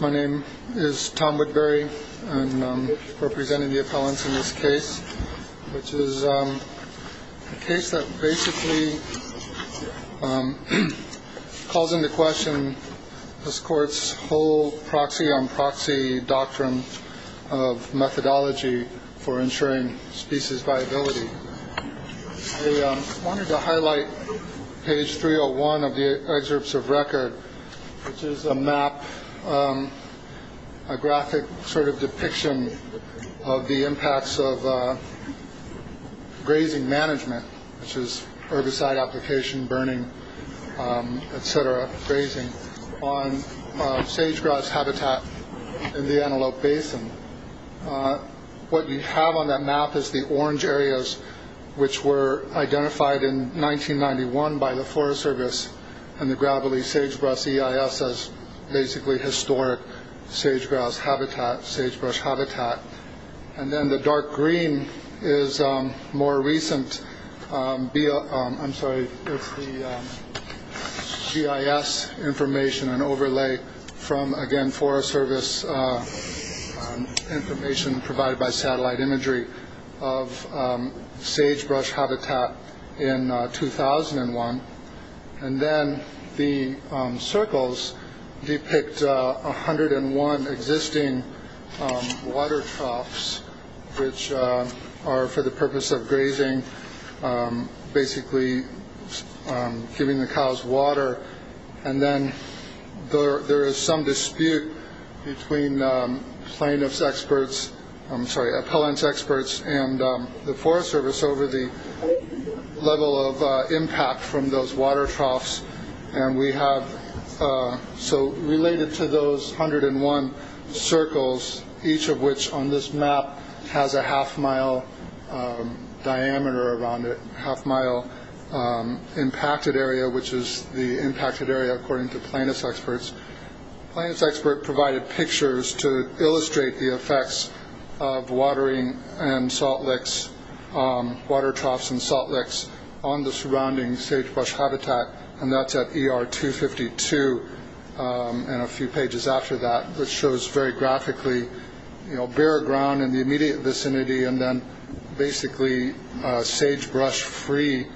My name is Tom Woodbury and I'm representing the appellants in this case, which is a case that basically calls into question this court's whole proxy-on-proxy doctrine of methodology for ensuring species viability. I wanted to highlight page 301 of the excerpts of record, which is a map, a graphic sort of depiction of the impacts of grazing management, which is herbicide application, burning, et cetera, grazing on sage-grass habitat in the Antelope Basin. What you have on that map is the orange areas, which were identified in 1991 by the Forest Service and the Gravely Sagebrush EIS as basically historic sage-grass habitat, sagebrush habitat. And then the dark green is more recent, I'm sorry, it's the GIS information, an overlay from, again, Forest Service information provided by satellite imagery of sagebrush habitat in 2001. And then the circles depict 101 existing water troughs, which are for the purpose of grazing, basically giving the cows water. And then there is some dispute between plaintiff's experts, I'm sorry, appellant's experts and the Forest Service over the level of impact from those water troughs. And we have, so related to those 101 circles, each of which on this map has a half-mile diameter around it, half-mile impacted area, which is the impacted area according to plaintiff's experts. Plaintiff's expert provided pictures to illustrate the effects of watering and salt licks, water troughs and salt licks on the surrounding sagebrush habitat, and that's at ER 252 and a few pages after that, which shows very graphically bare ground in the immediate vicinity and then basically sagebrush-free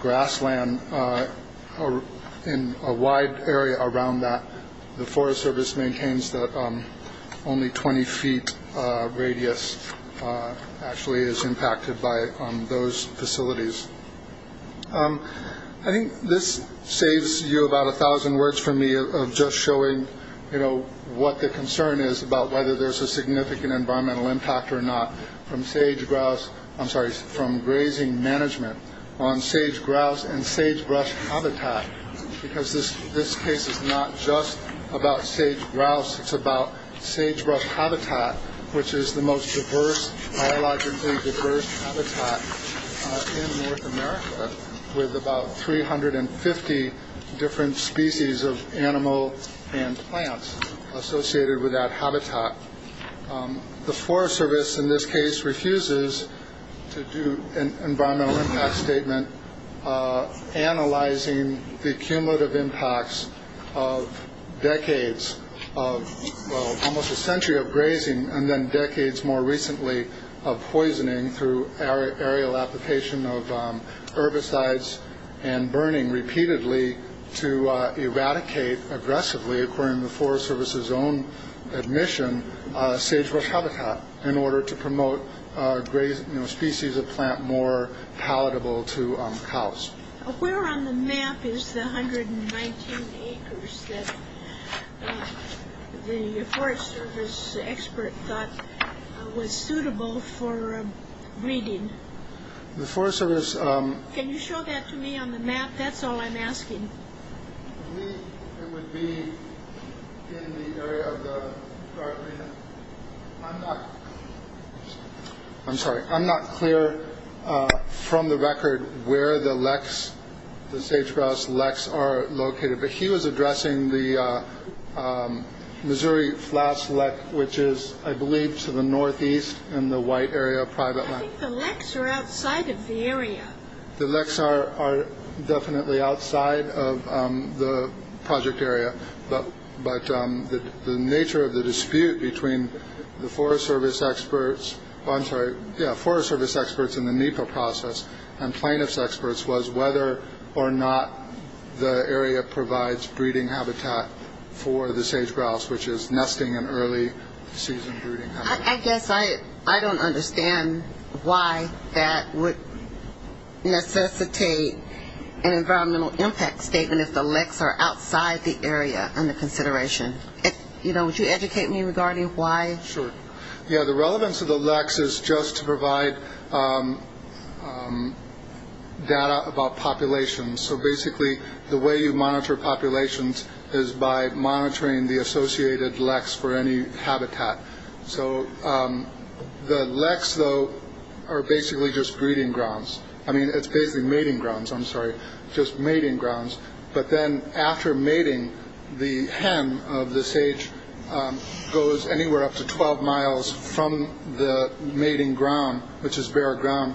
grassland in a wide area around that. The Forest Service maintains that only 20 feet radius actually is impacted by those facilities. I think this saves you about a thousand words from me of just showing, you know, what the concern is about whether there's a significant environmental impact or not from sage grouse. I'm sorry, from grazing management on sage grouse and sagebrush habitat, because this case is not just about sage grouse. It's about sagebrush habitat, which is the most diverse, biologically diverse habitat in North America, with about 350 different species of animal and plants associated with that habitat. The Forest Service in this case refuses to do an environmental impact statement analyzing the cumulative impacts of decades of almost a century of grazing and then decades more recently of poisoning through aerial application of herbicides and burning repeatedly to eradicate aggressively, according to the Forest Service's own admission, sagebrush habitat in order to promote species of plant more palatable to cows. Where on the map is the 119 acres that the Forest Service expert thought was suitable for breeding? The Forest Service... Can you show that to me on the map? That's all I'm asking. I believe it would be in the area of the... I'm not... I'm sorry, I'm not clear from the record where the leks, the sage grouse leks are located, but he was addressing the Missouri Flats Lek, which is, I believe, to the northeast in the white area of private land. I think the leks are outside of the area. The leks are definitely outside of the project area, but the nature of the dispute between the Forest Service experts, I'm sorry, yeah, Forest Service experts in the NEPA process and plaintiff's experts was whether or not the area provides breeding habitat for the sage grouse, which is nesting and early season breeding habitat. I guess I don't understand why that would necessitate an environmental impact statement if the leks are outside the area under consideration. You know, would you educate me regarding why? Sure. Yeah, the relevance of the leks is just to provide data about populations. So basically, the way you monitor populations is by monitoring the associated leks for any habitat. So the leks, though, are basically just breeding grounds. I mean, it's basically mating grounds. I'm sorry, just mating grounds. But then after mating, the hem of the sage goes anywhere up to 12 miles from the mating ground, which is bare ground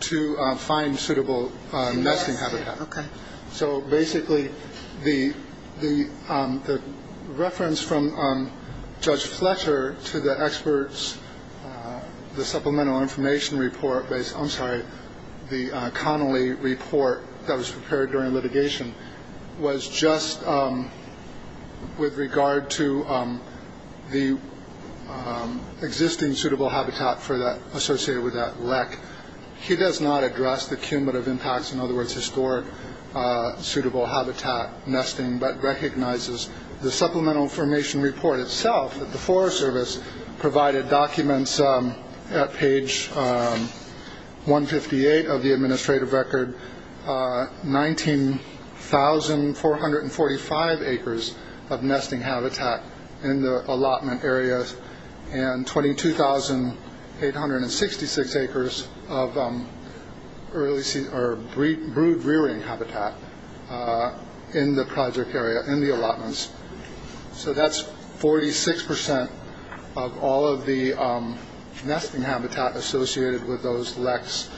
to find suitable nesting habitat. So basically, the reference from Judge Fletcher to the experts, the supplemental information report, I'm sorry, the Connolly report that was prepared during litigation, was just with regard to the existing suitable habitat associated with that lek. He does not address the cumulative impacts, in other words, historic suitable habitat nesting, but recognizes the supplemental information report itself, that the Forest Service provided documents at page 158 of the administrative record, 19,445 acres of nesting habitat in the allotment areas and 22,866 acres of brood-rearing habitat in the project area, in the allotments. So that's 46% of all of the nesting habitat associated with those leks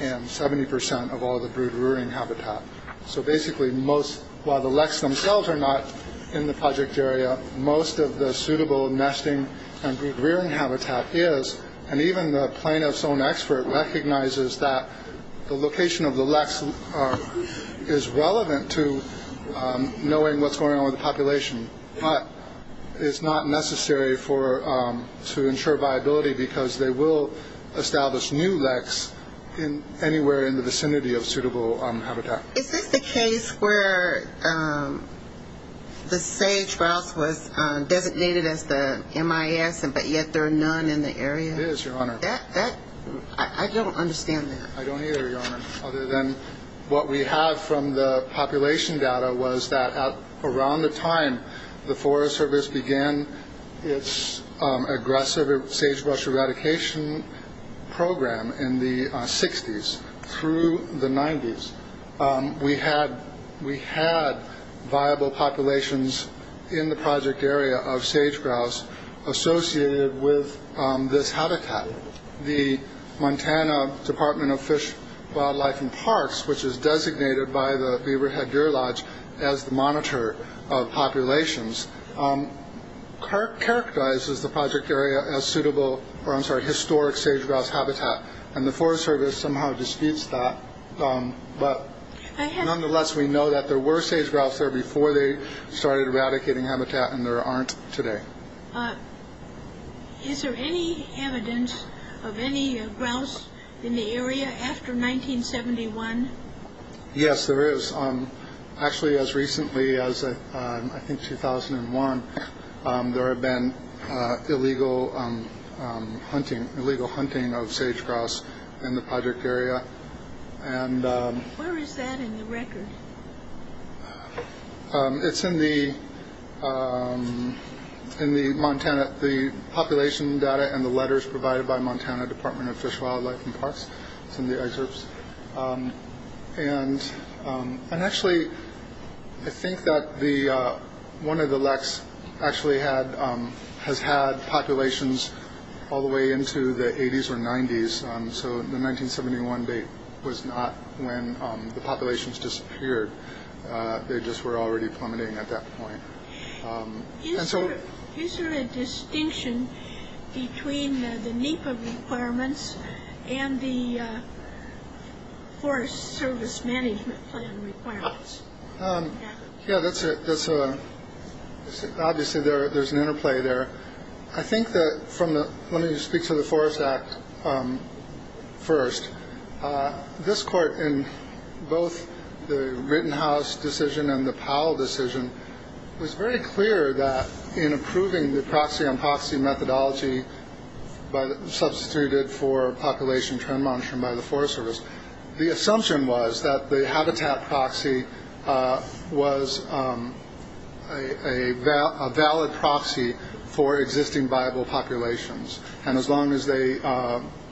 and 70% of all the brood-rearing habitat. So basically, while the leks themselves are not in the project area, most of the suitable nesting and brood-rearing habitat is. And even the plaintiff's own expert recognizes that the location of the leks is relevant to knowing what's going on with the population, but it's not necessary to ensure viability because they will establish new leks anywhere in the vicinity of suitable habitat. Is this the case where the sagebrush was designated as the MIS, but yet there are none in the area? It is, Your Honor. I don't understand that. I don't either, Your Honor, other than what we have from the population data was that around the time the Forest Service began its aggressive sagebrush eradication program in the 60s through the 90s, we had viable populations in the project area of sage-grouse associated with this habitat. The Montana Department of Fish, Wildlife, and Parks, which is designated by the Beaverhead Deer Lodge as the monitor of populations, characterizes the project area as suitable, or I'm sorry, historic sage-grouse habitat, and the Forest Service somehow disputes that, but nonetheless we know that there were sage-grouse there before they started eradicating habitat and there aren't today. Is there any evidence of any grouse in the area after 1971? Yes, there is. Actually, as recently as I think 2001, there have been illegal hunting of sage-grouse in the project area. Where is that in the record? It's in the Montana population data and the letters provided by Montana Department of Fish, Wildlife, and Parks. It's in the excerpts. Actually, I think that one of the leks actually has had populations all the way into the 80s or 90s, so the 1971 date was not when the populations disappeared. They just were already plummeting at that point. Is there a distinction between the NEPA requirements and the Forest Service Management Plan requirements? Yeah, obviously there's an interplay there. Let me speak to the Forest Act first. This court, in both the Rittenhouse decision and the Powell decision, was very clear that in approving the proxy-on-proxy methodology substituted for population trend monitoring by the Forest Service, the assumption was that the habitat proxy was a valid proxy for existing viable populations, and as long as they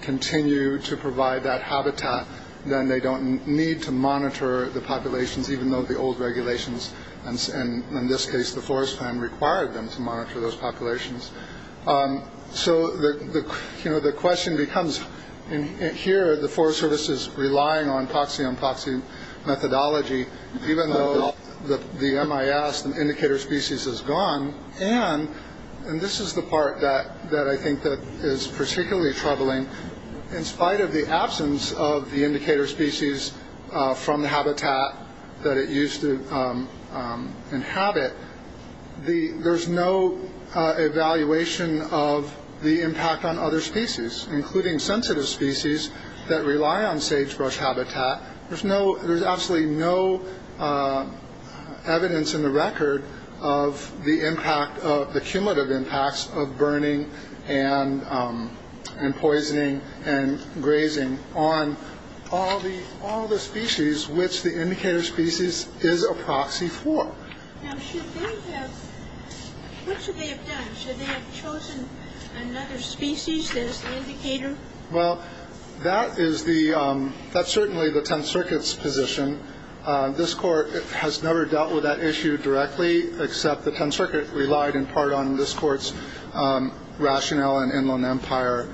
continue to provide that habitat, then they don't need to monitor the populations, even though the old regulations, and in this case the Forest Plan, required them to monitor those populations. So the question becomes, here the Forest Service is relying on proxy-on-proxy methodology, even though the MIS, the indicator species, is gone. And this is the part that I think is particularly troubling. In spite of the absence of the indicator species from the habitat that it used to inhabit, there's no evaluation of the impact on other species, including sensitive species that rely on sagebrush habitat. There's absolutely no evidence in the record of the cumulative impacts of burning and poisoning and grazing on all the species which the indicator species is a proxy for. Now, what should they have done? Should they have chosen another species that is the indicator? Well, that is certainly the Tenth Circuit's position. This Court has never dealt with that issue directly, except the Tenth Circuit relied in part on this Court's rationale and Inland Empire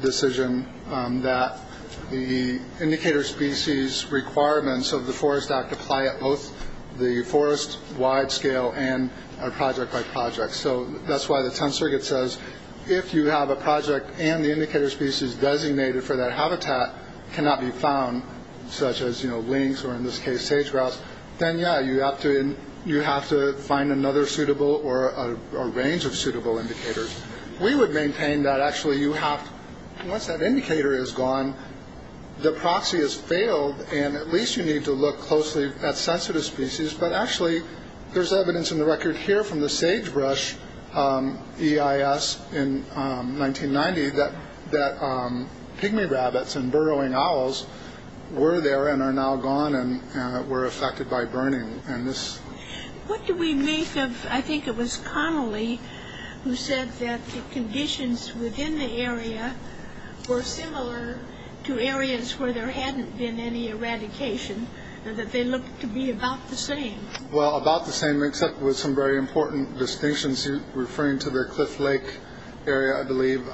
decision that the indicator species requirements of the Forest Act apply at both the forest-wide scale and project-by-project. So that's why the Tenth Circuit says, if you have a project and the indicator species designated for that habitat cannot be found, such as lynx or, in this case, sagebrush, then, yeah, you have to find another suitable or a range of suitable indicators. We would maintain that, actually, once that indicator is gone, the proxy has failed, and at least you need to look closely at sensitive species. But, actually, there's evidence in the record here from the sagebrush EIS in 1990 that pygmy rabbits and burrowing owls were there and are now gone and were affected by burning. What do we make of, I think it was Connolly who said that the conditions within the area were similar to areas where there hadn't been any eradication, that they looked to be about the same? Well, about the same, except with some very important distinctions. He was referring to the Cliff Lake area, I believe,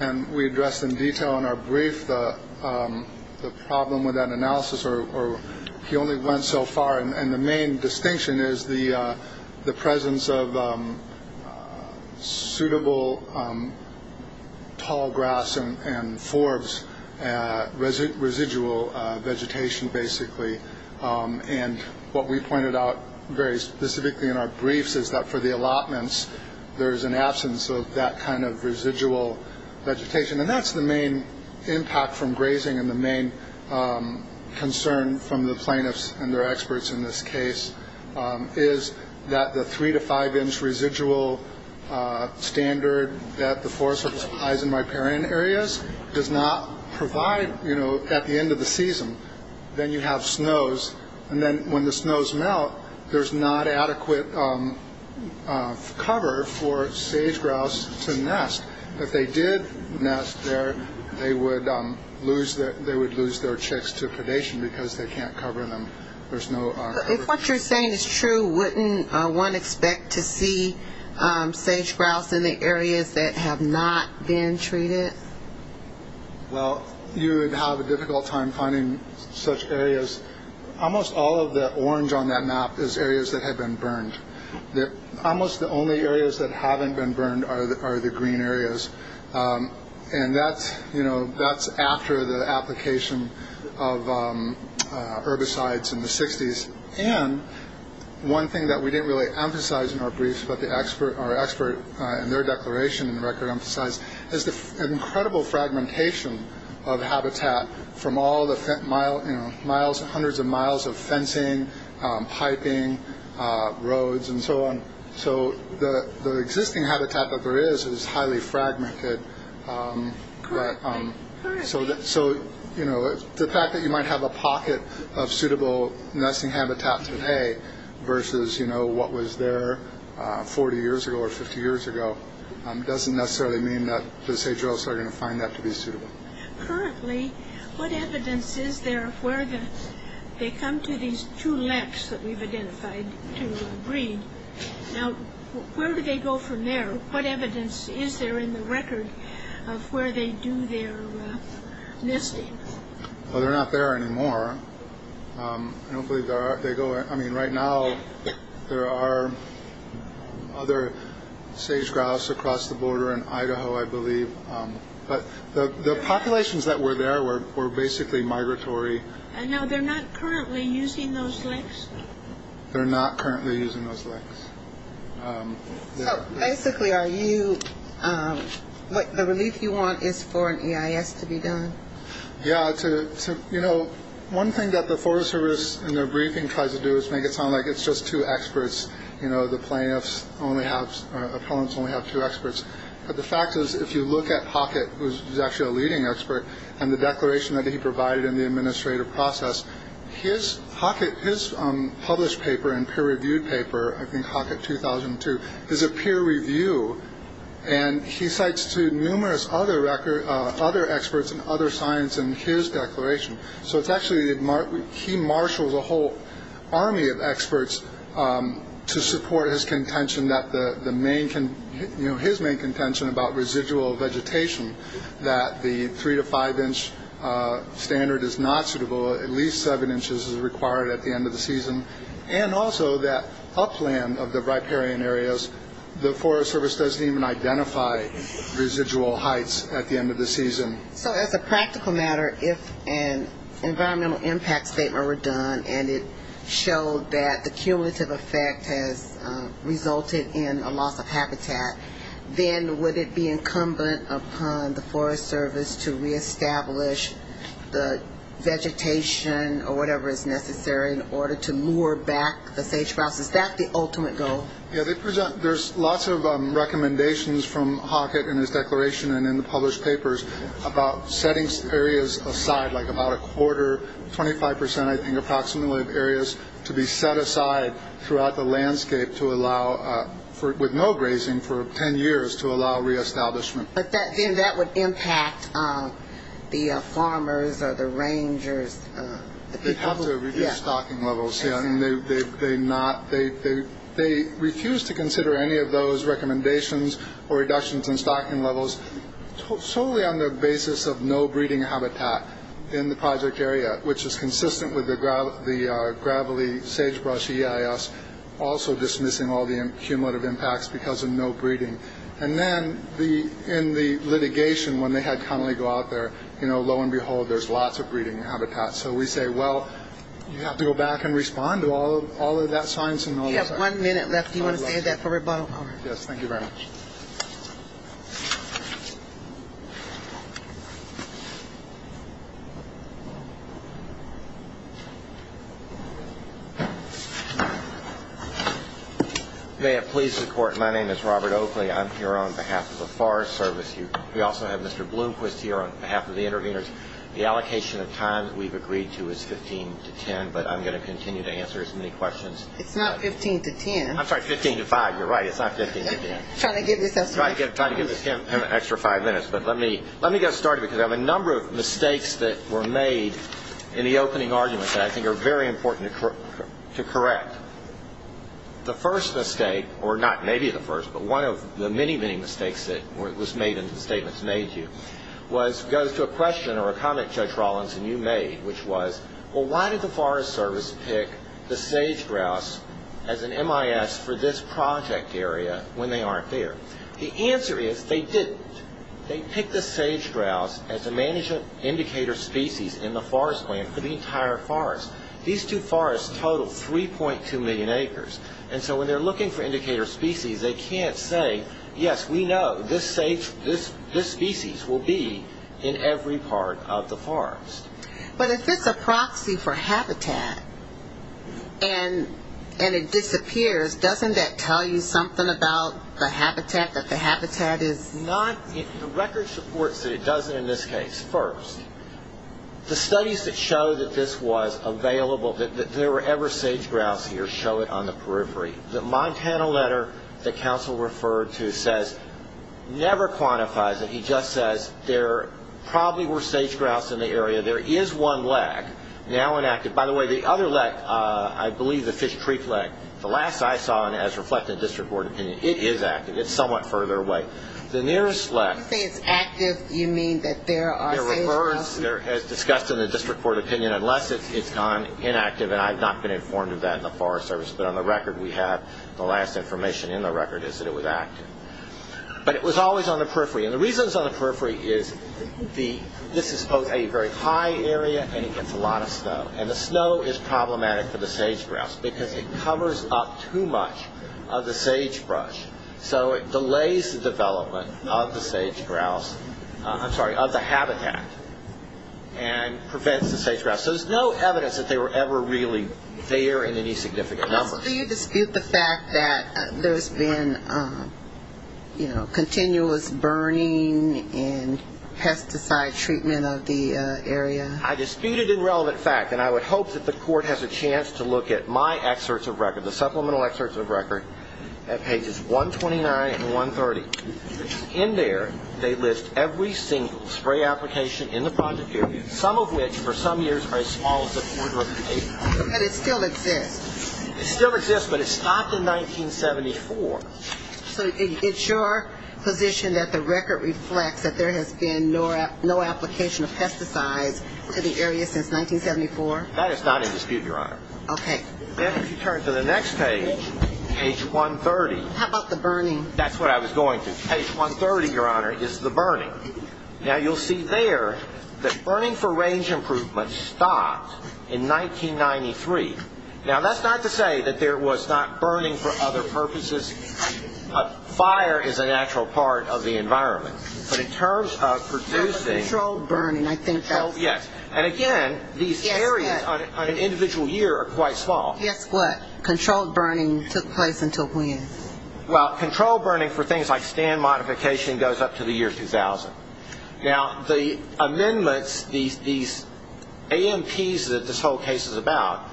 and we addressed in detail in our brief the problem with that analysis. He only went so far, and the main distinction is the presence of suitable tall grass and forbs, residual vegetation, basically, and what we pointed out very specifically in our briefs is that for the allotments, there's an absence of that kind of residual vegetation, and that's the main impact from grazing and the main concern from the plaintiffs and their experts in this case is that the three to five inch residual standard that the forest has in riparian areas does not provide at the end of the season. Then you have snows, and then when the snows melt, there's not adequate cover for sage grouse to nest. If they did nest there, they would lose their chicks to predation because they can't cover them. If what you're saying is true, wouldn't one expect to see sage grouse in the areas that have not been treated? Well, you would have a difficult time finding such areas. Almost all of the orange on that map is areas that have been burned. Almost the only areas that haven't been burned are the green areas, and that's after the application of herbicides in the 60s, and one thing that we didn't really emphasize in our briefs, but our expert in their declaration in the record emphasized, is the incredible fragmentation of habitat from all the hundreds of miles of fencing, piping, roads, and so on. So the existing habitat that there is is highly fragmented. The fact that you might have a pocket of suitable nesting habitat today versus what was there 40 years ago or 50 years ago doesn't necessarily mean that the sage grouse are going to find that to be suitable. Currently, what evidence is there of where they come to these two lakes that we've identified to breed? Now, where do they go from there? What evidence is there in the record of where they do their nesting? Well, they're not there anymore. I don't believe they are. I mean, right now, there are other sage grouse across the border in Idaho, I believe, but the populations that were there were basically migratory. And now they're not currently using those lakes? They're not currently using those lakes. So basically, the relief you want is for an EIS to be done? Yeah. You know, one thing that the Forest Service in their briefing tries to do is make it sound like it's just two experts. You know, the plaintiffs only have two experts. But the fact is, if you look at Hockett, who's actually a leading expert, and the declaration that he provided in the administrative process, his published paper and peer-reviewed paper, I think Hockett 2002, is a peer review, and he cites to numerous other experts and other science in his declaration. So it's actually he marshals a whole army of experts to support his contention about residual vegetation, that the three- to five-inch standard is not suitable. At least seven inches is required at the end of the season. And also that upland of the riparian areas, the Forest Service doesn't even identify residual heights at the end of the season. So as a practical matter, if an environmental impact statement were done and it showed that the cumulative effect has resulted in a loss of habitat, then would it be incumbent upon the Forest Service to reestablish the vegetation or whatever is necessary in order to lure back the sage-grouse? Is that the ultimate goal? Yeah. There's lots of recommendations from Hockett in his declaration and in the published papers about setting areas aside, like about a quarter, 25%, I think, approximately, of areas to be set aside throughout the landscape with no grazing for 10 years to allow reestablishment. But then that would impact the farmers or the rangers. They'd have to reduce stocking levels. They refuse to consider any of those recommendations or reductions in stocking levels solely on the basis of no breeding habitat in the project area, which is consistent with the gravelly sagebrush EIS, And then in the litigation when they had Connelly go out there, you know, lo and behold, there's lots of breeding habitat. So we say, well, you have to go back and respond to all of that science and all of that. You have one minute left. Do you want to say that for rebuttal? Yes, thank you very much. May it please the Court, my name is Robert Oakley. I'm here on behalf of the Forest Service. We also have Mr. Bloomquist here on behalf of the interveners. The allocation of time that we've agreed to is 15 to 10, but I'm going to continue to answer as many questions. It's not 15 to 10. I'm sorry, 15 to 5. You're right. It's not 15 to 10. I'm trying to give this extra five minutes. Try to give this extra five minutes. Let me get started because I have a number of mistakes that were made in the opening arguments that I think are very important to correct. The first mistake, or not maybe the first, but one of the many, many mistakes that was made in the statements made to you, goes to a question or a comment Judge Rollins and you made, which was, well, why did the Forest Service pick the sage-grouse as an MIS for this project area when they aren't there? The answer is they didn't. They picked the sage-grouse as a management indicator species in the forest land for the entire forest. These two forests total 3.2 million acres, and so when they're looking for indicator species, they can't say, yes, we know this species will be in every part of the forest. But if it's a proxy for habitat and it disappears, doesn't that tell you something about the habitat, that the habitat is? The record supports that it doesn't in this case. First, the studies that show that this was available, that there were ever sage-grouse here, show it on the periphery. The Montana letter that counsel referred to says, never quantifies it. He just says there probably were sage-grouse in the area. There is one lek now enacted. By the way, the other lek, I believe the fish creek lek, the last I saw it as reflected in district court opinion, it is active. It's somewhat further away. The nearest lek- When you say it's active, you mean that there are sage-grouse? There are, as discussed in the district court opinion, unless it's gone inactive, and I've not been informed of that in the Forest Service, but on the record we have the last information in the record is that it was active. But it was always on the periphery, and the reasons on the periphery is this is both a very high area and it gets a lot of snow, and the snow is problematic for the sage-grouse because it covers up too much of the sagebrush, so it delays the development of the sage-grouse, I'm sorry, of the habitat, and prevents the sage-grouse. So there's no evidence that they were ever really there in any significant number. So you dispute the fact that there's been, you know, And I would hope that the court has a chance to look at my excerpts of record, the supplemental excerpts of record at pages 129 and 130. In there they list every single spray application in the project area, some of which for some years are as small as a quarter of an acre. But it still exists. It still exists, but it stopped in 1974. So it's your position that the record reflects that there has been no application of pesticides to the area since 1974? That is not in dispute, Your Honor. Okay. Then if you turn to the next page, page 130. How about the burning? That's what I was going to. Page 130, Your Honor, is the burning. Now you'll see there that burning for range improvement stopped in 1993. Now that's not to say that there was not burning for other purposes. Fire is a natural part of the environment, but in terms of producing Controlled burning, I think that's it. Yes. And, again, these areas on an individual year are quite small. Guess what? Controlled burning took place until when? Well, controlled burning for things like stand modification goes up to the year 2000. Now the amendments, these AMPs that this whole case is about,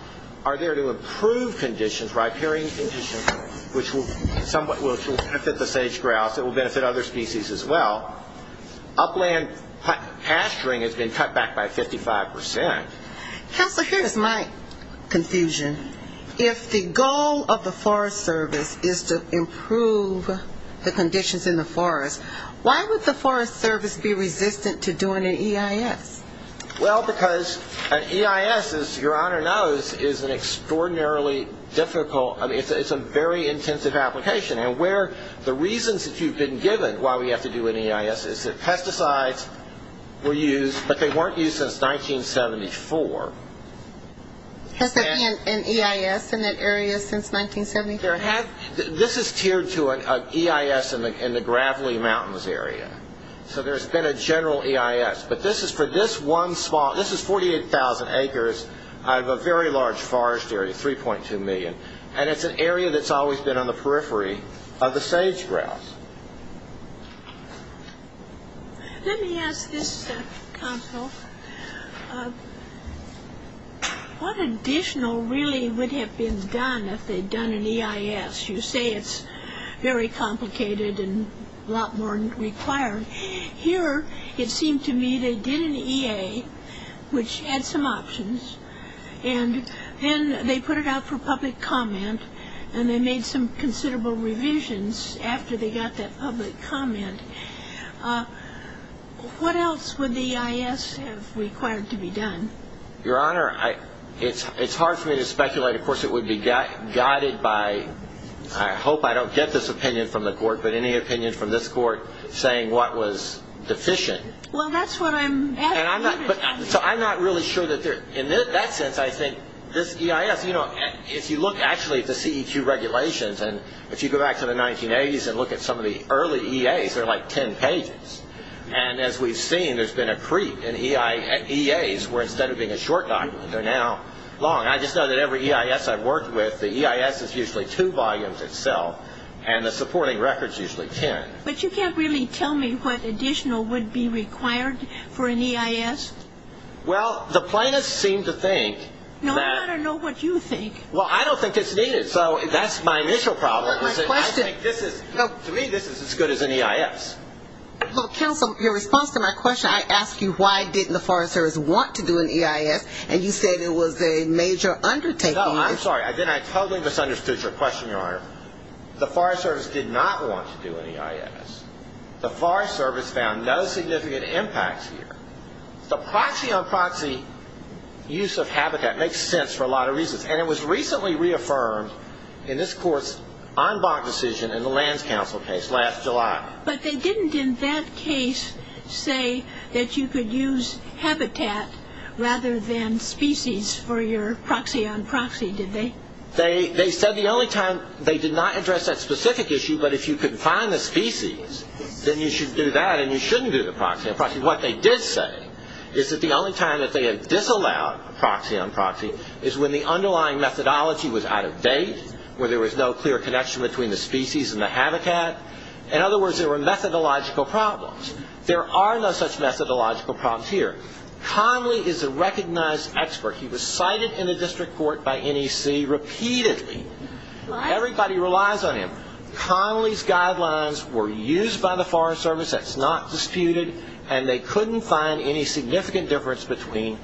are there to improve conditions, riparian conditions, which will benefit the sage grouse, it will benefit other species as well. Upland pasturing has been cut back by 55 percent. Counselor, here is my confusion. If the goal of the Forest Service is to improve the conditions in the forest, why would the Forest Service be resistant to doing an EIS? Well, because an EIS, as Your Honor knows, is an extraordinarily difficult, it's a very intensive application, and where the reasons that you've been given why we have to do an EIS is that pesticides were used, but they weren't used since 1974. Has there been an EIS in that area since 1974? This is tiered to an EIS in the Gravely Mountains area, so there's been a general EIS, but this is for this one small, this is 48,000 acres out of a very large forest area, 3.2 million, and it's an area that's always been on the periphery of the sage grouse. Let me ask this, Counsel. What additional really would have been done if they'd done an EIS? You say it's very complicated and a lot more required. Here, it seemed to me they did an EA, which had some options, and then they put it out for public comment, and they made some considerable revisions after they got that public comment. What else would the EIS have required to be done? Your Honor, it's hard for me to speculate. Of course, it would be guided by, I hope I don't get this opinion from the court, but any opinion from this court saying what was deficient. Well, that's what I'm asking. I'm not really sure. In that sense, I think this EIS, if you look actually at the CEQ regulations, and if you go back to the 1980s and look at some of the early EAs, they're like 10 pages. As we've seen, there's been a creep in EAs where instead of being a short document, they're now long. I just know that every EIS I've worked with, the EIS is usually two volumes itself, and the supporting record's usually 10. But you can't really tell me what additional would be required for an EIS? Well, the plaintiffs seem to think that. No, I don't know what you think. Well, I don't think it's needed, so that's my initial problem. My question. I think this is, to me, this is as good as an EIS. Counsel, your response to my question, I asked you why didn't the Forest Service want to do an EIS, and you said it was a major undertaking. No, I'm sorry. Then I totally misunderstood your question, Your Honor. The Forest Service did not want to do an EIS. The Forest Service found no significant impacts here. The proxy-on-proxy use of habitat makes sense for a lot of reasons, and it was recently reaffirmed in this Court's en banc decision in the Lands Council case last July. But they didn't in that case say that you could use habitat rather than species for your proxy-on-proxy, did they? They said the only time they did not address that specific issue, but if you could find the species, then you should do that and you shouldn't do the proxy-on-proxy. What they did say is that the only time that they had disallowed proxy-on-proxy is when the underlying methodology was out of date, where there was no clear connection between the species and the habitat. In other words, there were methodological problems. There are no such methodological problems here. Conley is a recognized expert. He was cited in the district court by NEC repeatedly. Everybody relies on him. Conley's guidelines were used by the Forest Service. That's not disputed, and they couldn't find any significant difference between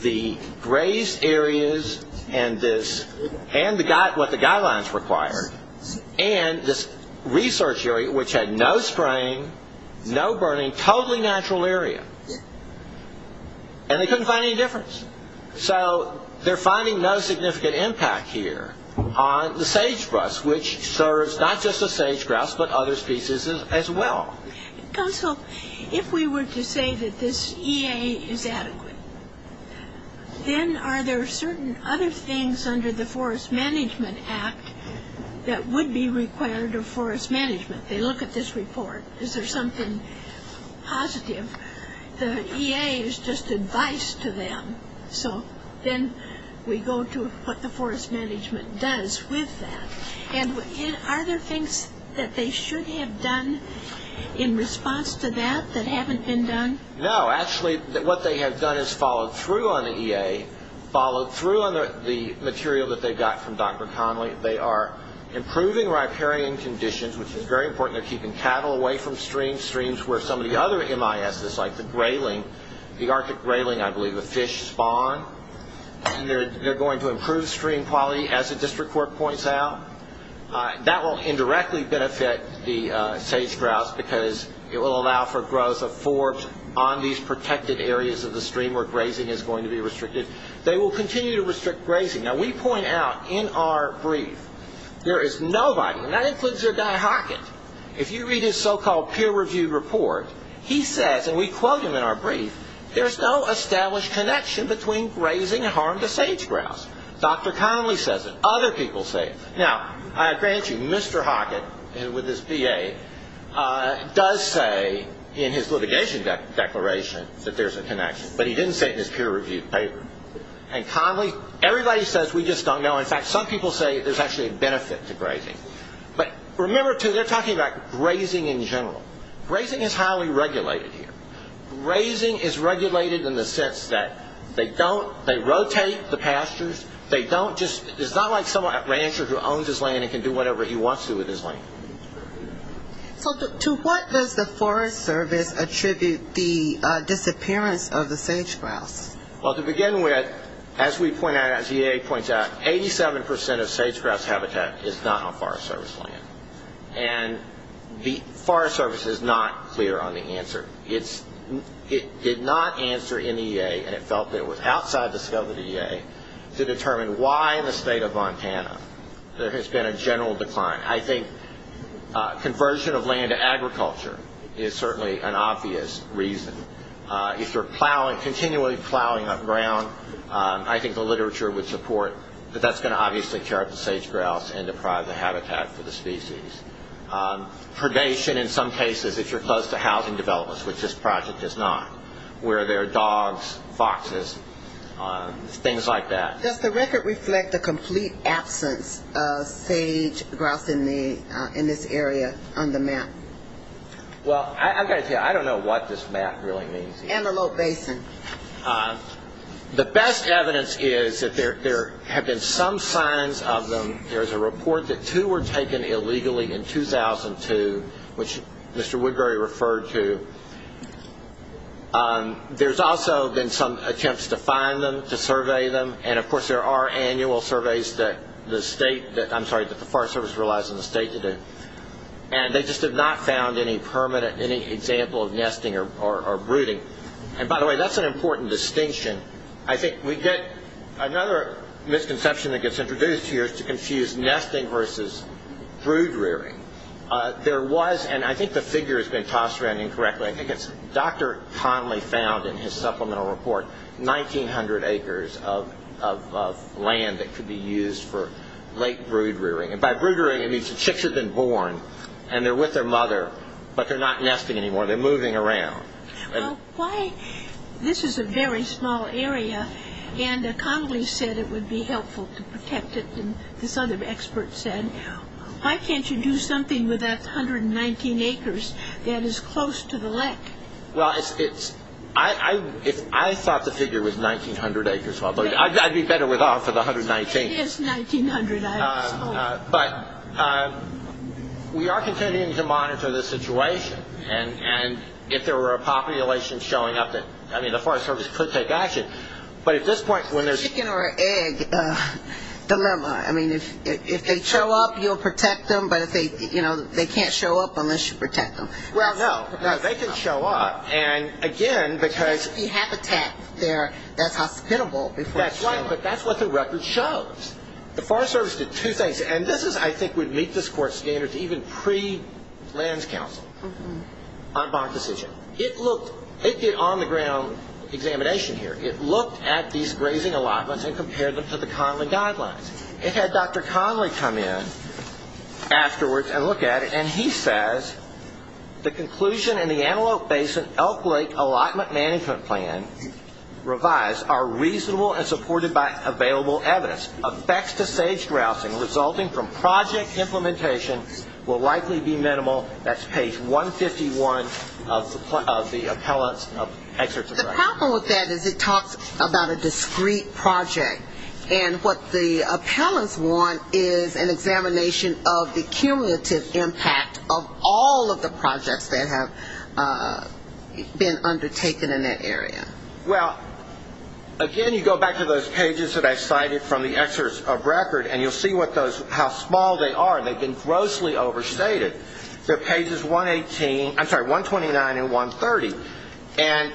the grazed areas and what the guidelines required and this research area, which had no spraying, no burning, totally natural area. And they couldn't find any difference. So they're finding no significant impact here on the sagebrush, which serves not just the sage grass but other species as well. Counsel, if we were to say that this EA is adequate, then are there certain other things under the Forest Management Act that would be required of forest management? They look at this report. Is there something positive? The EA is just advice to them. So then we go to what the forest management does with that. And are there things that they should have done in response to that that haven't been done? No, actually what they have done is followed through on the EA, followed through on the material that they got from Dr. Conley. They are improving riparian conditions, which is very important. They're keeping cattle away from streams, streams where some of the other MISs, like the grayling, the Arctic grayling I believe, the fish spawn. They're going to improve stream quality, as the district court points out. That will indirectly benefit the sage grouse because it will allow for growth of forbs on these protected areas of the stream where grazing is going to be restricted. They will continue to restrict grazing. Now we point out in our brief there is nobody, and that includes your guy Hockett. If you read his so-called peer-reviewed report, he says, and we quote him in our brief, there's no established connection between grazing and harm to sage grouse. Dr. Conley says it. Other people say it. Now, I grant you, Mr. Hockett, with his BA, does say in his litigation declaration that there's a connection, but he didn't say it in his peer-reviewed paper. And Conley, everybody says we just don't know. In fact, some people say there's actually a benefit to grazing. But remember, too, they're talking about grazing in general. Grazing is highly regulated here. Grazing is regulated in the sense that they rotate the pastures. It's not like some rancher who owns his land and can do whatever he wants to with his land. So to what does the Forest Service attribute the disappearance of the sage grouse? Well, to begin with, as we point out, as the EA points out, 87% of sage grouse habitat is not on Forest Service land. And the Forest Service is not clear on the answer. It did not answer in the EA, and it felt it was outside the scope of the EA, to determine why in the state of Montana there has been a general decline. I think conversion of land to agriculture is certainly an obvious reason. If you're continually plowing up ground, I think the literature would support that that's going to obviously tear up the sage grouse and deprive the habitat for the species. Predation, in some cases, if you're close to housing developments, which this project is not, where there are dogs, foxes, things like that. Does the record reflect the complete absence of sage grouse in this area on the map? Well, I've got to tell you, I don't know what this map really means. Antelope Basin. The best evidence is that there have been some signs of them. There's a report that two were taken illegally in 2002, which Mr. Woodbury referred to. There's also been some attempts to find them, to survey them. And, of course, there are annual surveys that the state that, I'm sorry, that the Forest Service relies on the state to do. And they just have not found any permanent, any example of nesting or brooding. And, by the way, that's an important distinction. I think we get another misconception that gets introduced here is to confuse nesting versus brood rearing. There was, and I think the figure has been tossed around incorrectly, I think it's Dr. Conley found in his supplemental report, 1,900 acres of land that could be used for late brood rearing. And by brood rearing, it means the chicks have been born, and they're with their mother, but they're not nesting anymore, they're moving around. Well, why, this is a very small area, and Conley said it would be helpful to protect it, and this other expert said, why can't you do something with that 119 acres that is close to the lake? Well, it's, I thought the figure was 1,900 acres, although I'd be better off with 119. It is 1,900 acres. But we are continuing to monitor the situation, and if there were a population showing up that, I mean, the Forest Service could take action, but at this point when there's... The chicken or egg dilemma. I mean, if they show up, you'll protect them, but if they, you know, they can't show up unless you protect them. Well, no, they can show up, and again, because... There should be habitat there that's hospitable before they show up. That's right, but that's what the record shows. The Forest Service did two things, and this is, I think, would meet this Court's standards, even pre-Lands Council on bond decision. It looked, it did on-the-ground examination here. It looked at these grazing allotments and compared them to the Conley guidelines. It had Dr. Conley come in afterwards and look at it, and he says the conclusion in the Antelope Basin Elk Lake Allotment Management Plan revised are reasonable and supported by available evidence. Effects to sage grousing resulting from project implementation will likely be minimal. That's page 151 of the appellant's excerpt. The problem with that is it talks about a discrete project, and what the appellants want is an examination of the cumulative impact of all of the projects that have been undertaken in that area. Well, again, you go back to those pages that I cited from the excerpt of record, and you'll see what those, how small they are. They've been grossly overstated. They're pages 118, I'm sorry, 129 and 130. And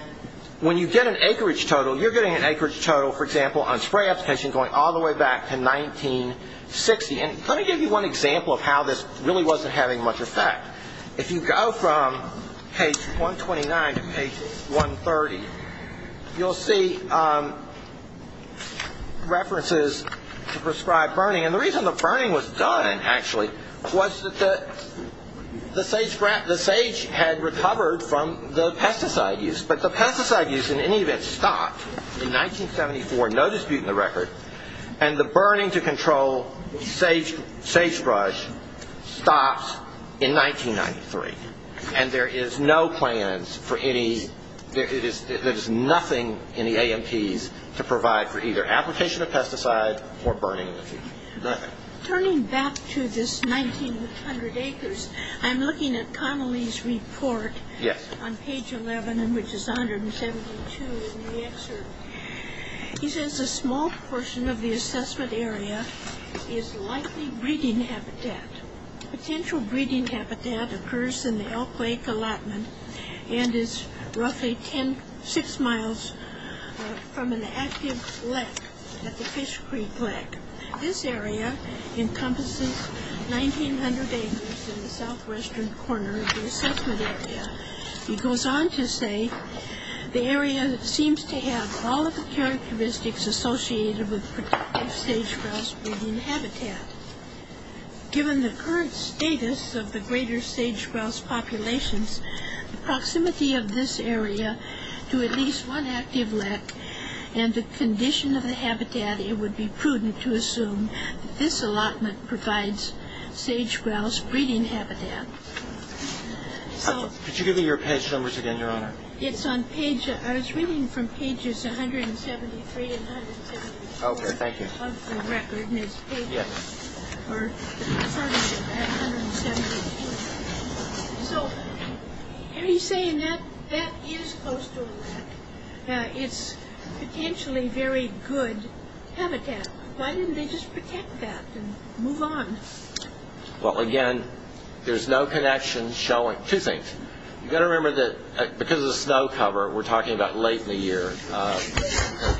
when you get an acreage total, you're getting an acreage total, for example, on spray application going all the way back to 1960. And let me give you one example of how this really wasn't having much effect. If you go from page 129 to page 130, you'll see references to prescribed burning. And the reason the burning was done, actually, was that the sage had recovered from the pesticide use, but the pesticide use in any event stopped in 1974, no dispute in the record, and the burning to control sagebrush stops in 1993, and there is no plans for any, there is nothing in the AMTs to provide for either application of pesticide or burning in the future, nothing. Turning back to this 1,900 acres, I'm looking at Connelly's report on page 11, which is 172 in the excerpt. He says a small portion of the assessment area is likely breeding habitat. Potential breeding habitat occurs in the Elk Lake allotment and is roughly six miles from an active lake at the Fish Creek Lake. This area encompasses 1,900 acres in the southwestern corner of the assessment area. He goes on to say the area seems to have all of the characteristics associated with protective sage-grouse breeding habitat. Given the current status of the greater sage-grouse populations, the proximity of this area to at least one active lake and the condition of the habitat, it would be prudent to assume that this allotment provides sage-grouse breeding habitat. Could you give me your page numbers again, Your Honor? It's on page, I was reading from pages 173 and 174. Okay, thank you. Of the record, and it's page 173. So are you saying that that is coastal lake? It's potentially very good habitat. Why didn't they just protect that and move on? Well, again, there's no connection showing. Two things. You've got to remember that because of the snow cover, we're talking about late in the year,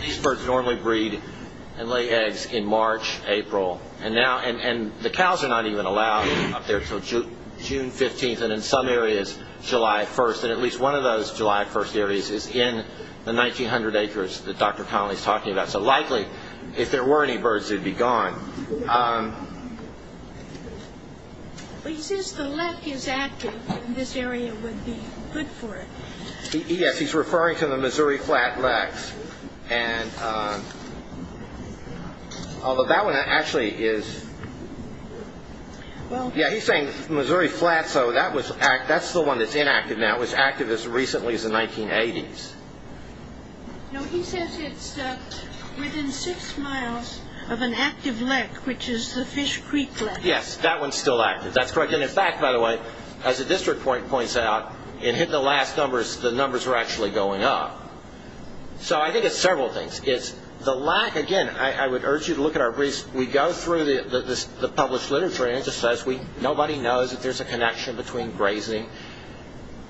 these birds normally breed and lay eggs in March, April, and the cows are not even allowed up there until June 15th and in some areas July 1st, and at least one of those July 1st areas is in the 1,900 acres that Dr. Connolly is talking about. So likely, if there were any birds, they'd be gone. Well, he says the lek is active and this area would be good for it. Yes, he's referring to the Missouri Flat Leks. Although that one actually is, yeah, he's saying Missouri Flat, so that's the one that's inactive now. It was active as recently as the 1980s. No, he says it's within six miles of an active lek, which is the Fish Creek Lek. Yes, that one's still active. That's correct, and in fact, by the way, as the district point points out, it hit the last numbers, the numbers were actually going up. So I think it's several things. Again, I would urge you to look at our briefs. We go through the published literature and it just says nobody knows that there's a connection between grazing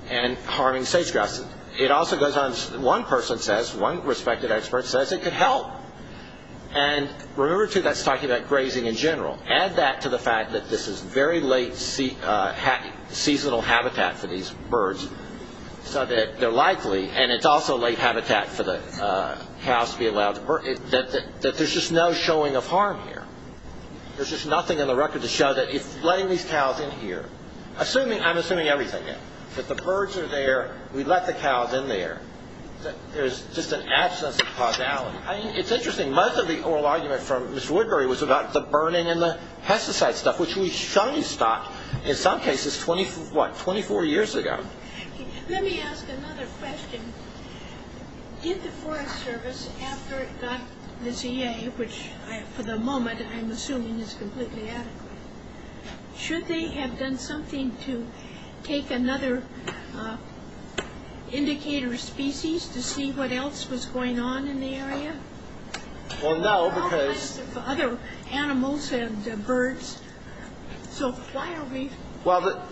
and harming sage-grouse. It also goes on, one person says, one respected expert says it could help. And remember, too, that's talking about grazing in general. Add that to the fact that this is very late seasonal habitat for these birds so that they're likely, and it's also late habitat for the cows to be allowed to birth, that there's just no showing of harm here. There's just nothing in the record to show that letting these cows in here, I'm assuming everything here, that the birds are there, we let the cows in there. There's just an absence of causality. It's interesting, most of the oral argument from Ms. Woodbury was about the burning and the pesticide stuff, which we shunned stock, in some cases, what, 24 years ago. Let me ask another question. Did the Forest Service, after it got the CA, which for the moment I'm assuming is completely adequate, should they have done something to take another indicator species to see what else was going on in the area? There are all kinds of other animals and birds, so why are we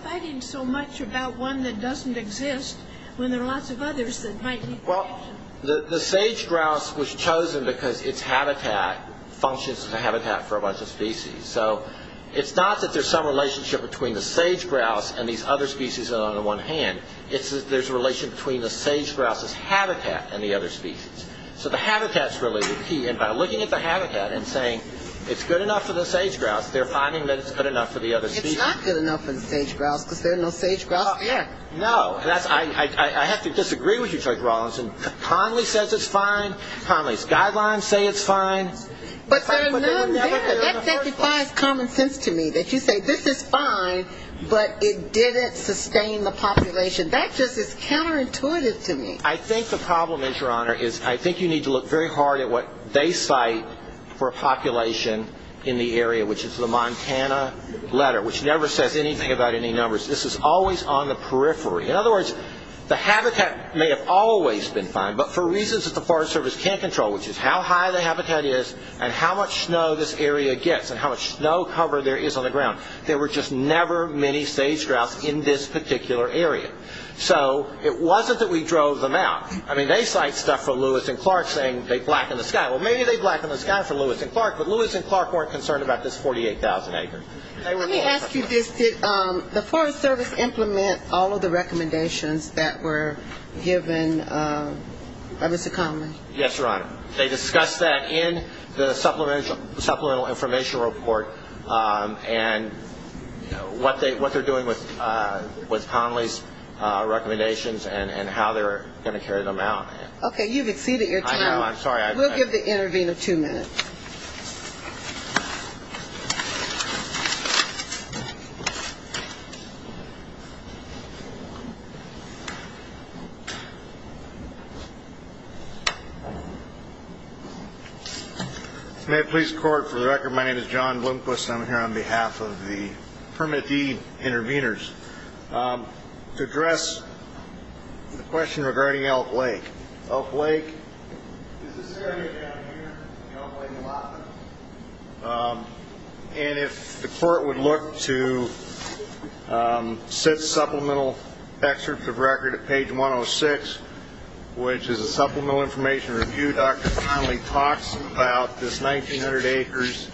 fighting so much about one that doesn't exist when there are lots of others that might need protection? The sage-grouse was chosen because its habitat functions as a habitat for a bunch of species. So it's not that there's some relationship between the sage-grouse and these other species on the one hand. It's that there's a relation between the sage-grouse's habitat and the other species. So the habitat's really the key, and by looking at the habitat and saying, it's good enough for the sage-grouse, they're finding that it's good enough for the other species. It's not good enough for the sage-grouse because there are no sage-grouses there. No, I have to disagree with you, Judge Rawlinson. Connelly says it's fine. Connelly's guidelines say it's fine. But there are none there. That just defies common sense to me, that you say this is fine, but it didn't sustain the population. That just is counterintuitive to me. I think the problem is, Your Honor, is I think you need to look very hard at what they cite for a population in the area, which is the Montana letter, which never says anything about any numbers. This is always on the periphery. In other words, the habitat may have always been fine, but for reasons that the Forest Service can't control, which is how high the habitat is and how much snow this area gets and how much snow cover there is on the ground, there were just never many sage-grouse in this particular area. So it wasn't that we drove them out. I mean, they cite stuff for Lewis and Clark saying they blackened the sky. Well, maybe they blackened the sky for Lewis and Clark, but Lewis and Clark weren't concerned about this 48,000 acres. Let me ask you this. Did the Forest Service implement all of the recommendations that were given by Mr. Conley? Yes, Your Honor. They discussed that in the supplemental information report and what they're doing with Conley's recommendations and how they're going to carry them out. Okay. You've exceeded your time. I know. I'm sorry. We'll give the intervener two minutes. May it please the Court, for the record, my name is John Bloomquist. I'm here on behalf of the permittee intervenors to address the question regarding Elk Lake. Elk Lake is this area down here in Elk Lake, Alaska. And if the Court would look to sit supplemental excerpts of record at page 106, which is a supplemental information review, Dr. Conley talks about this 1,900 acres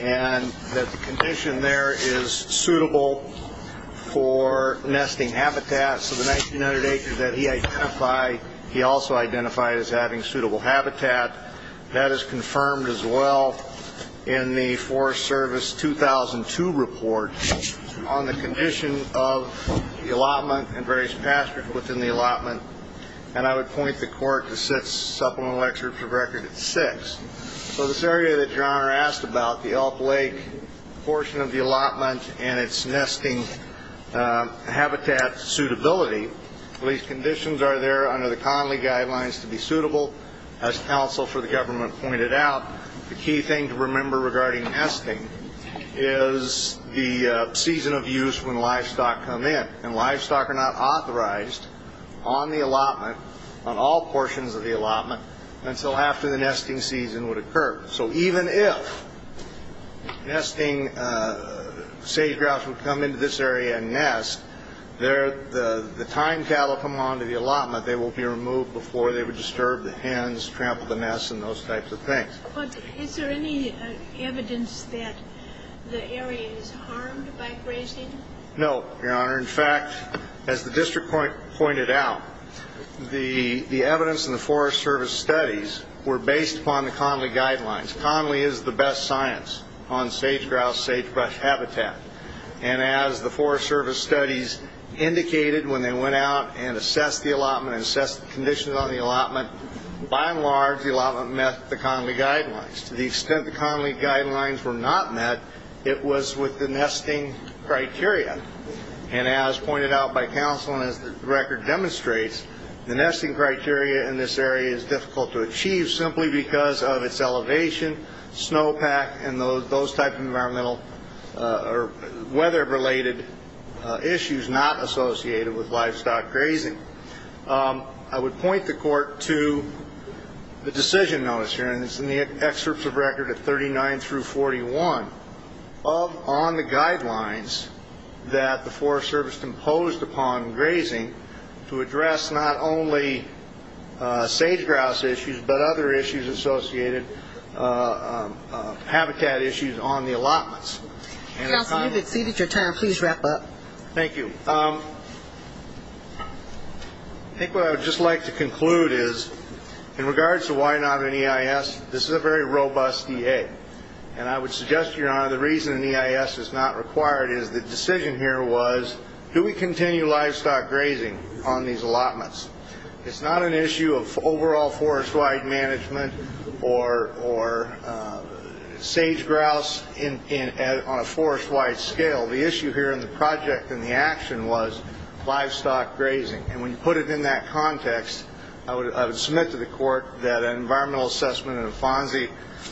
and that the condition there is suitable for nesting habitat. So the 1,900 acres that he identified, he also identified as having suitable habitat. That is confirmed as well in the Forest Service 2002 report on the condition of the allotment and various pastures within the allotment. And I would point the Court to sit supplemental excerpts of record at 6. So this area that Your Honor asked about, the Elk Lake portion of the allotment and its nesting habitat suitability, these conditions are there under the Conley guidelines to be suitable. As counsel for the government pointed out, the key thing to remember regarding nesting is the season of use when livestock come in. And livestock are not authorized on the allotment, on all portions of the allotment, until after the nesting season would occur. So even if nesting sage-grouse would come into this area and nest, the time cattle come onto the allotment, they will be removed before they would disturb the hens, trample the nests, and those types of things. But is there any evidence that the area is harmed by grazing? No, Your Honor. In fact, as the district pointed out, the evidence in the Forest Service studies were based upon the Conley guidelines. Conley is the best science on sage-grouse, sagebrush habitat. And as the Forest Service studies indicated when they went out and assessed the allotment and assessed the conditions on the allotment, by and large the allotment met the Conley guidelines. To the extent the Conley guidelines were not met, it was with the nesting criteria. And as pointed out by counsel and as the record demonstrates, the nesting criteria in this area is difficult to achieve simply because of its elevation, snowpack, and those types of weather-related issues not associated with livestock grazing. I would point the Court to the decision notice here, and it's in the excerpts of record at 39 through 41, on the guidelines that the Forest Service imposed upon grazing to address not only sage-grouse issues, but other issues associated habitat issues on the allotments. Counsel, you've exceeded your time. Please wrap up. Thank you. I think what I would just like to conclude is, in regards to why not an EIS, this is a very robust DA. And I would suggest to Your Honor, the reason an EIS is not required is the decision here was, do we continue livestock grazing on these allotments? It's not an issue of overall forest-wide management or sage-grouse on a forest-wide scale. The issue here in the project and the action was livestock grazing. And when you put it in that context, I would submit to the Court that an environmental assessment and a FONSI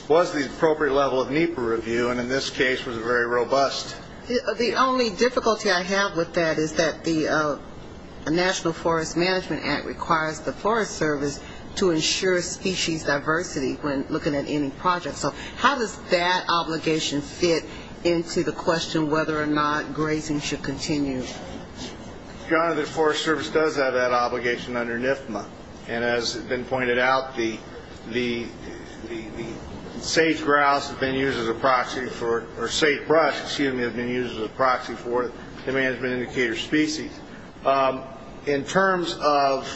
was the appropriate level of NEPA review, and in this case was very robust. The only difficulty I have with that is that the National Forest Management Act requires the Forest Service to ensure species diversity when looking at any project. So how does that obligation fit into the question whether or not grazing should continue? Your Honor, the Forest Service does have that obligation under NIFMA. And as has been pointed out, the sage-grouse have been used as a proxy for, or sage-brush, excuse me, have been used as a proxy for the management indicator species. In terms of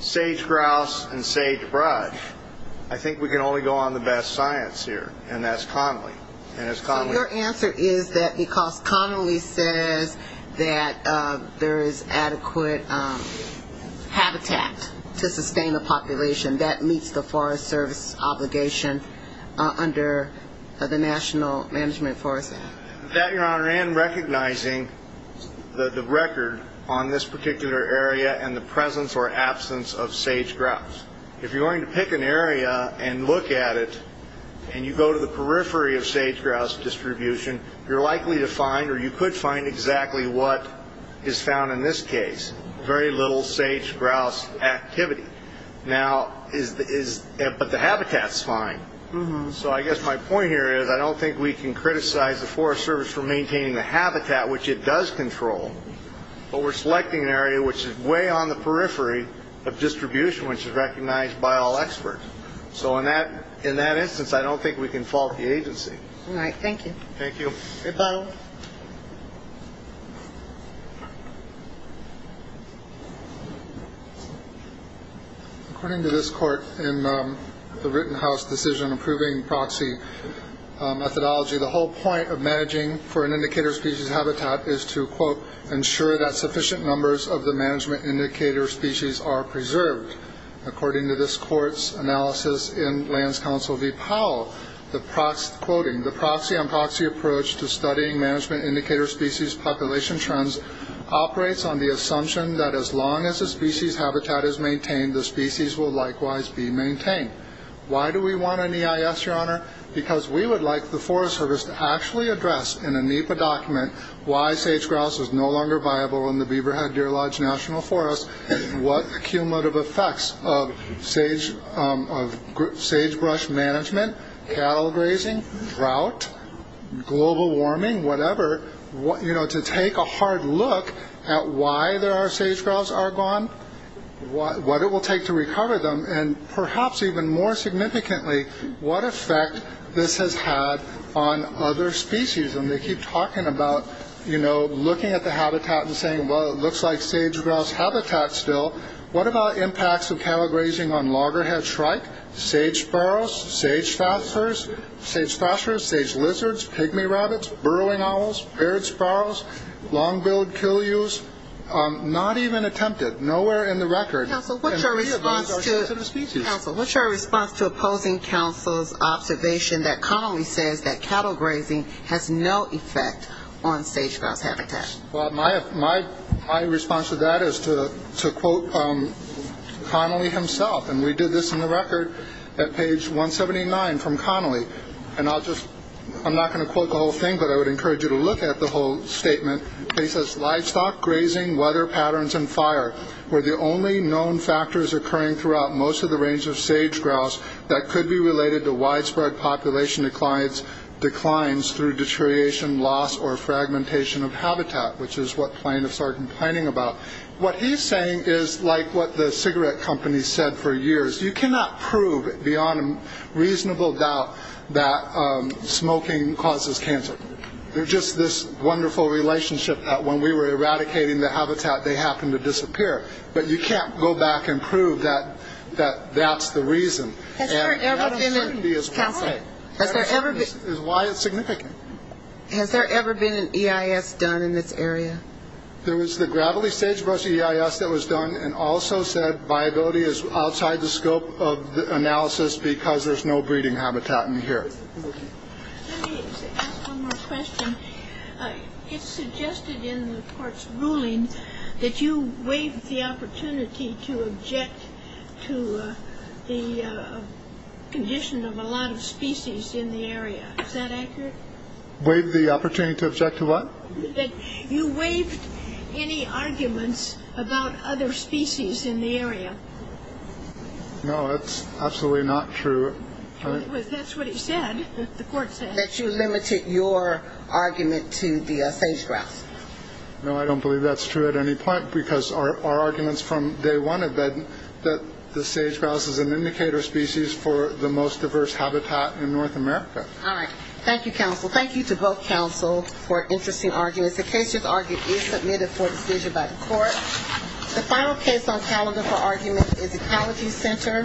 sage-grouse and sage-brush, I think we can only go on the best science here, and that's Connelly. So your answer is that because Connelly says that there is adequate habitat to sustain a population, that meets the Forest Service obligation under the National Management Forest Act. That, Your Honor, and recognizing the record on this particular area and the presence or absence of sage-grouse. If you're going to pick an area and look at it, and you go to the periphery of sage-grouse distribution, you're likely to find or you could find exactly what is found in this case, very little sage-grouse activity. But the habitat's fine. So I guess my point here is I don't think we can criticize the Forest Service for maintaining the habitat, which it does control. But we're selecting an area which is way on the periphery of distribution, which is recognized by all experts. So in that instance, I don't think we can fault the agency. All right. Thank you. Thank you. According to this court in the Rittenhouse decision approving proxy methodology, the whole point of managing for an indicator species habitat is to, quote, According to this court's analysis in Lands Council v. Powell, quoting, Why do we want an EIS, Your Honor? Because we would like the Forest Service to actually address in a NEPA document why sage-grouse is no longer viable in the Beaverhead-Deer Lodge National Forest, and what cumulative effects of sagebrush management, cattle grazing, drought, global warming, whatever, to take a hard look at why our sage-grouse are gone, what it will take to recover them, and perhaps even more significantly, what effect this has had on other species. And they keep talking about looking at the habitat and saying, well, it looks like sage-grouse habitat still. What about impacts of cattle grazing on loggerhead shrike, sage sparrows, sage fosters, sage lizards, pygmy rabbits, burrowing owls, bird sparrows, long-billed killews? Not even attempted. Nowhere in the record. Counsel, what's your response to opposing counsel's observation that commonly says that cattle grazing has no effect on sage-grouse habitat? Well, my response to that is to quote Connolly himself, and we did this in the record at page 179 from Connolly, and I'm not going to quote the whole thing, but I would encourage you to look at the whole statement. He says, Livestock, grazing, weather patterns, and fire were the only known factors occurring throughout most of the range of sage-grouse that could be related to widespread population declines through deterioration, loss, or fragmentation of habitat, which is what plaintiffs are complaining about. What he's saying is like what the cigarette company said for years. You cannot prove beyond reasonable doubt that smoking causes cancer. There's just this wonderful relationship that when we were eradicating the habitat, they happened to disappear, but you can't go back and prove that that's the reason. Has there ever been a – is why it's significant. Has there ever been an EIS done in this area? There was the gravelly sage-grouse EIS that was done and also said viability is outside the scope of analysis because there's no breeding habitat in here. Let me ask one more question. It's suggested in the court's ruling that you waived the opportunity to object to the condition of a lot of species in the area. Is that accurate? Waived the opportunity to object to what? That you waived any arguments about other species in the area. No, that's absolutely not true. That's what he said, the court said. That you limited your argument to the sage-grouse. No, I don't believe that's true at any point because our arguments from day one have been that the sage-grouse is an indicator species for the most diverse habitat in North America. All right. Thank you, counsel. Thank you to both counsel for interesting arguments. The case is argued and submitted for decision by the court. The final case on calendar for argument is Equality Center v. Kimball.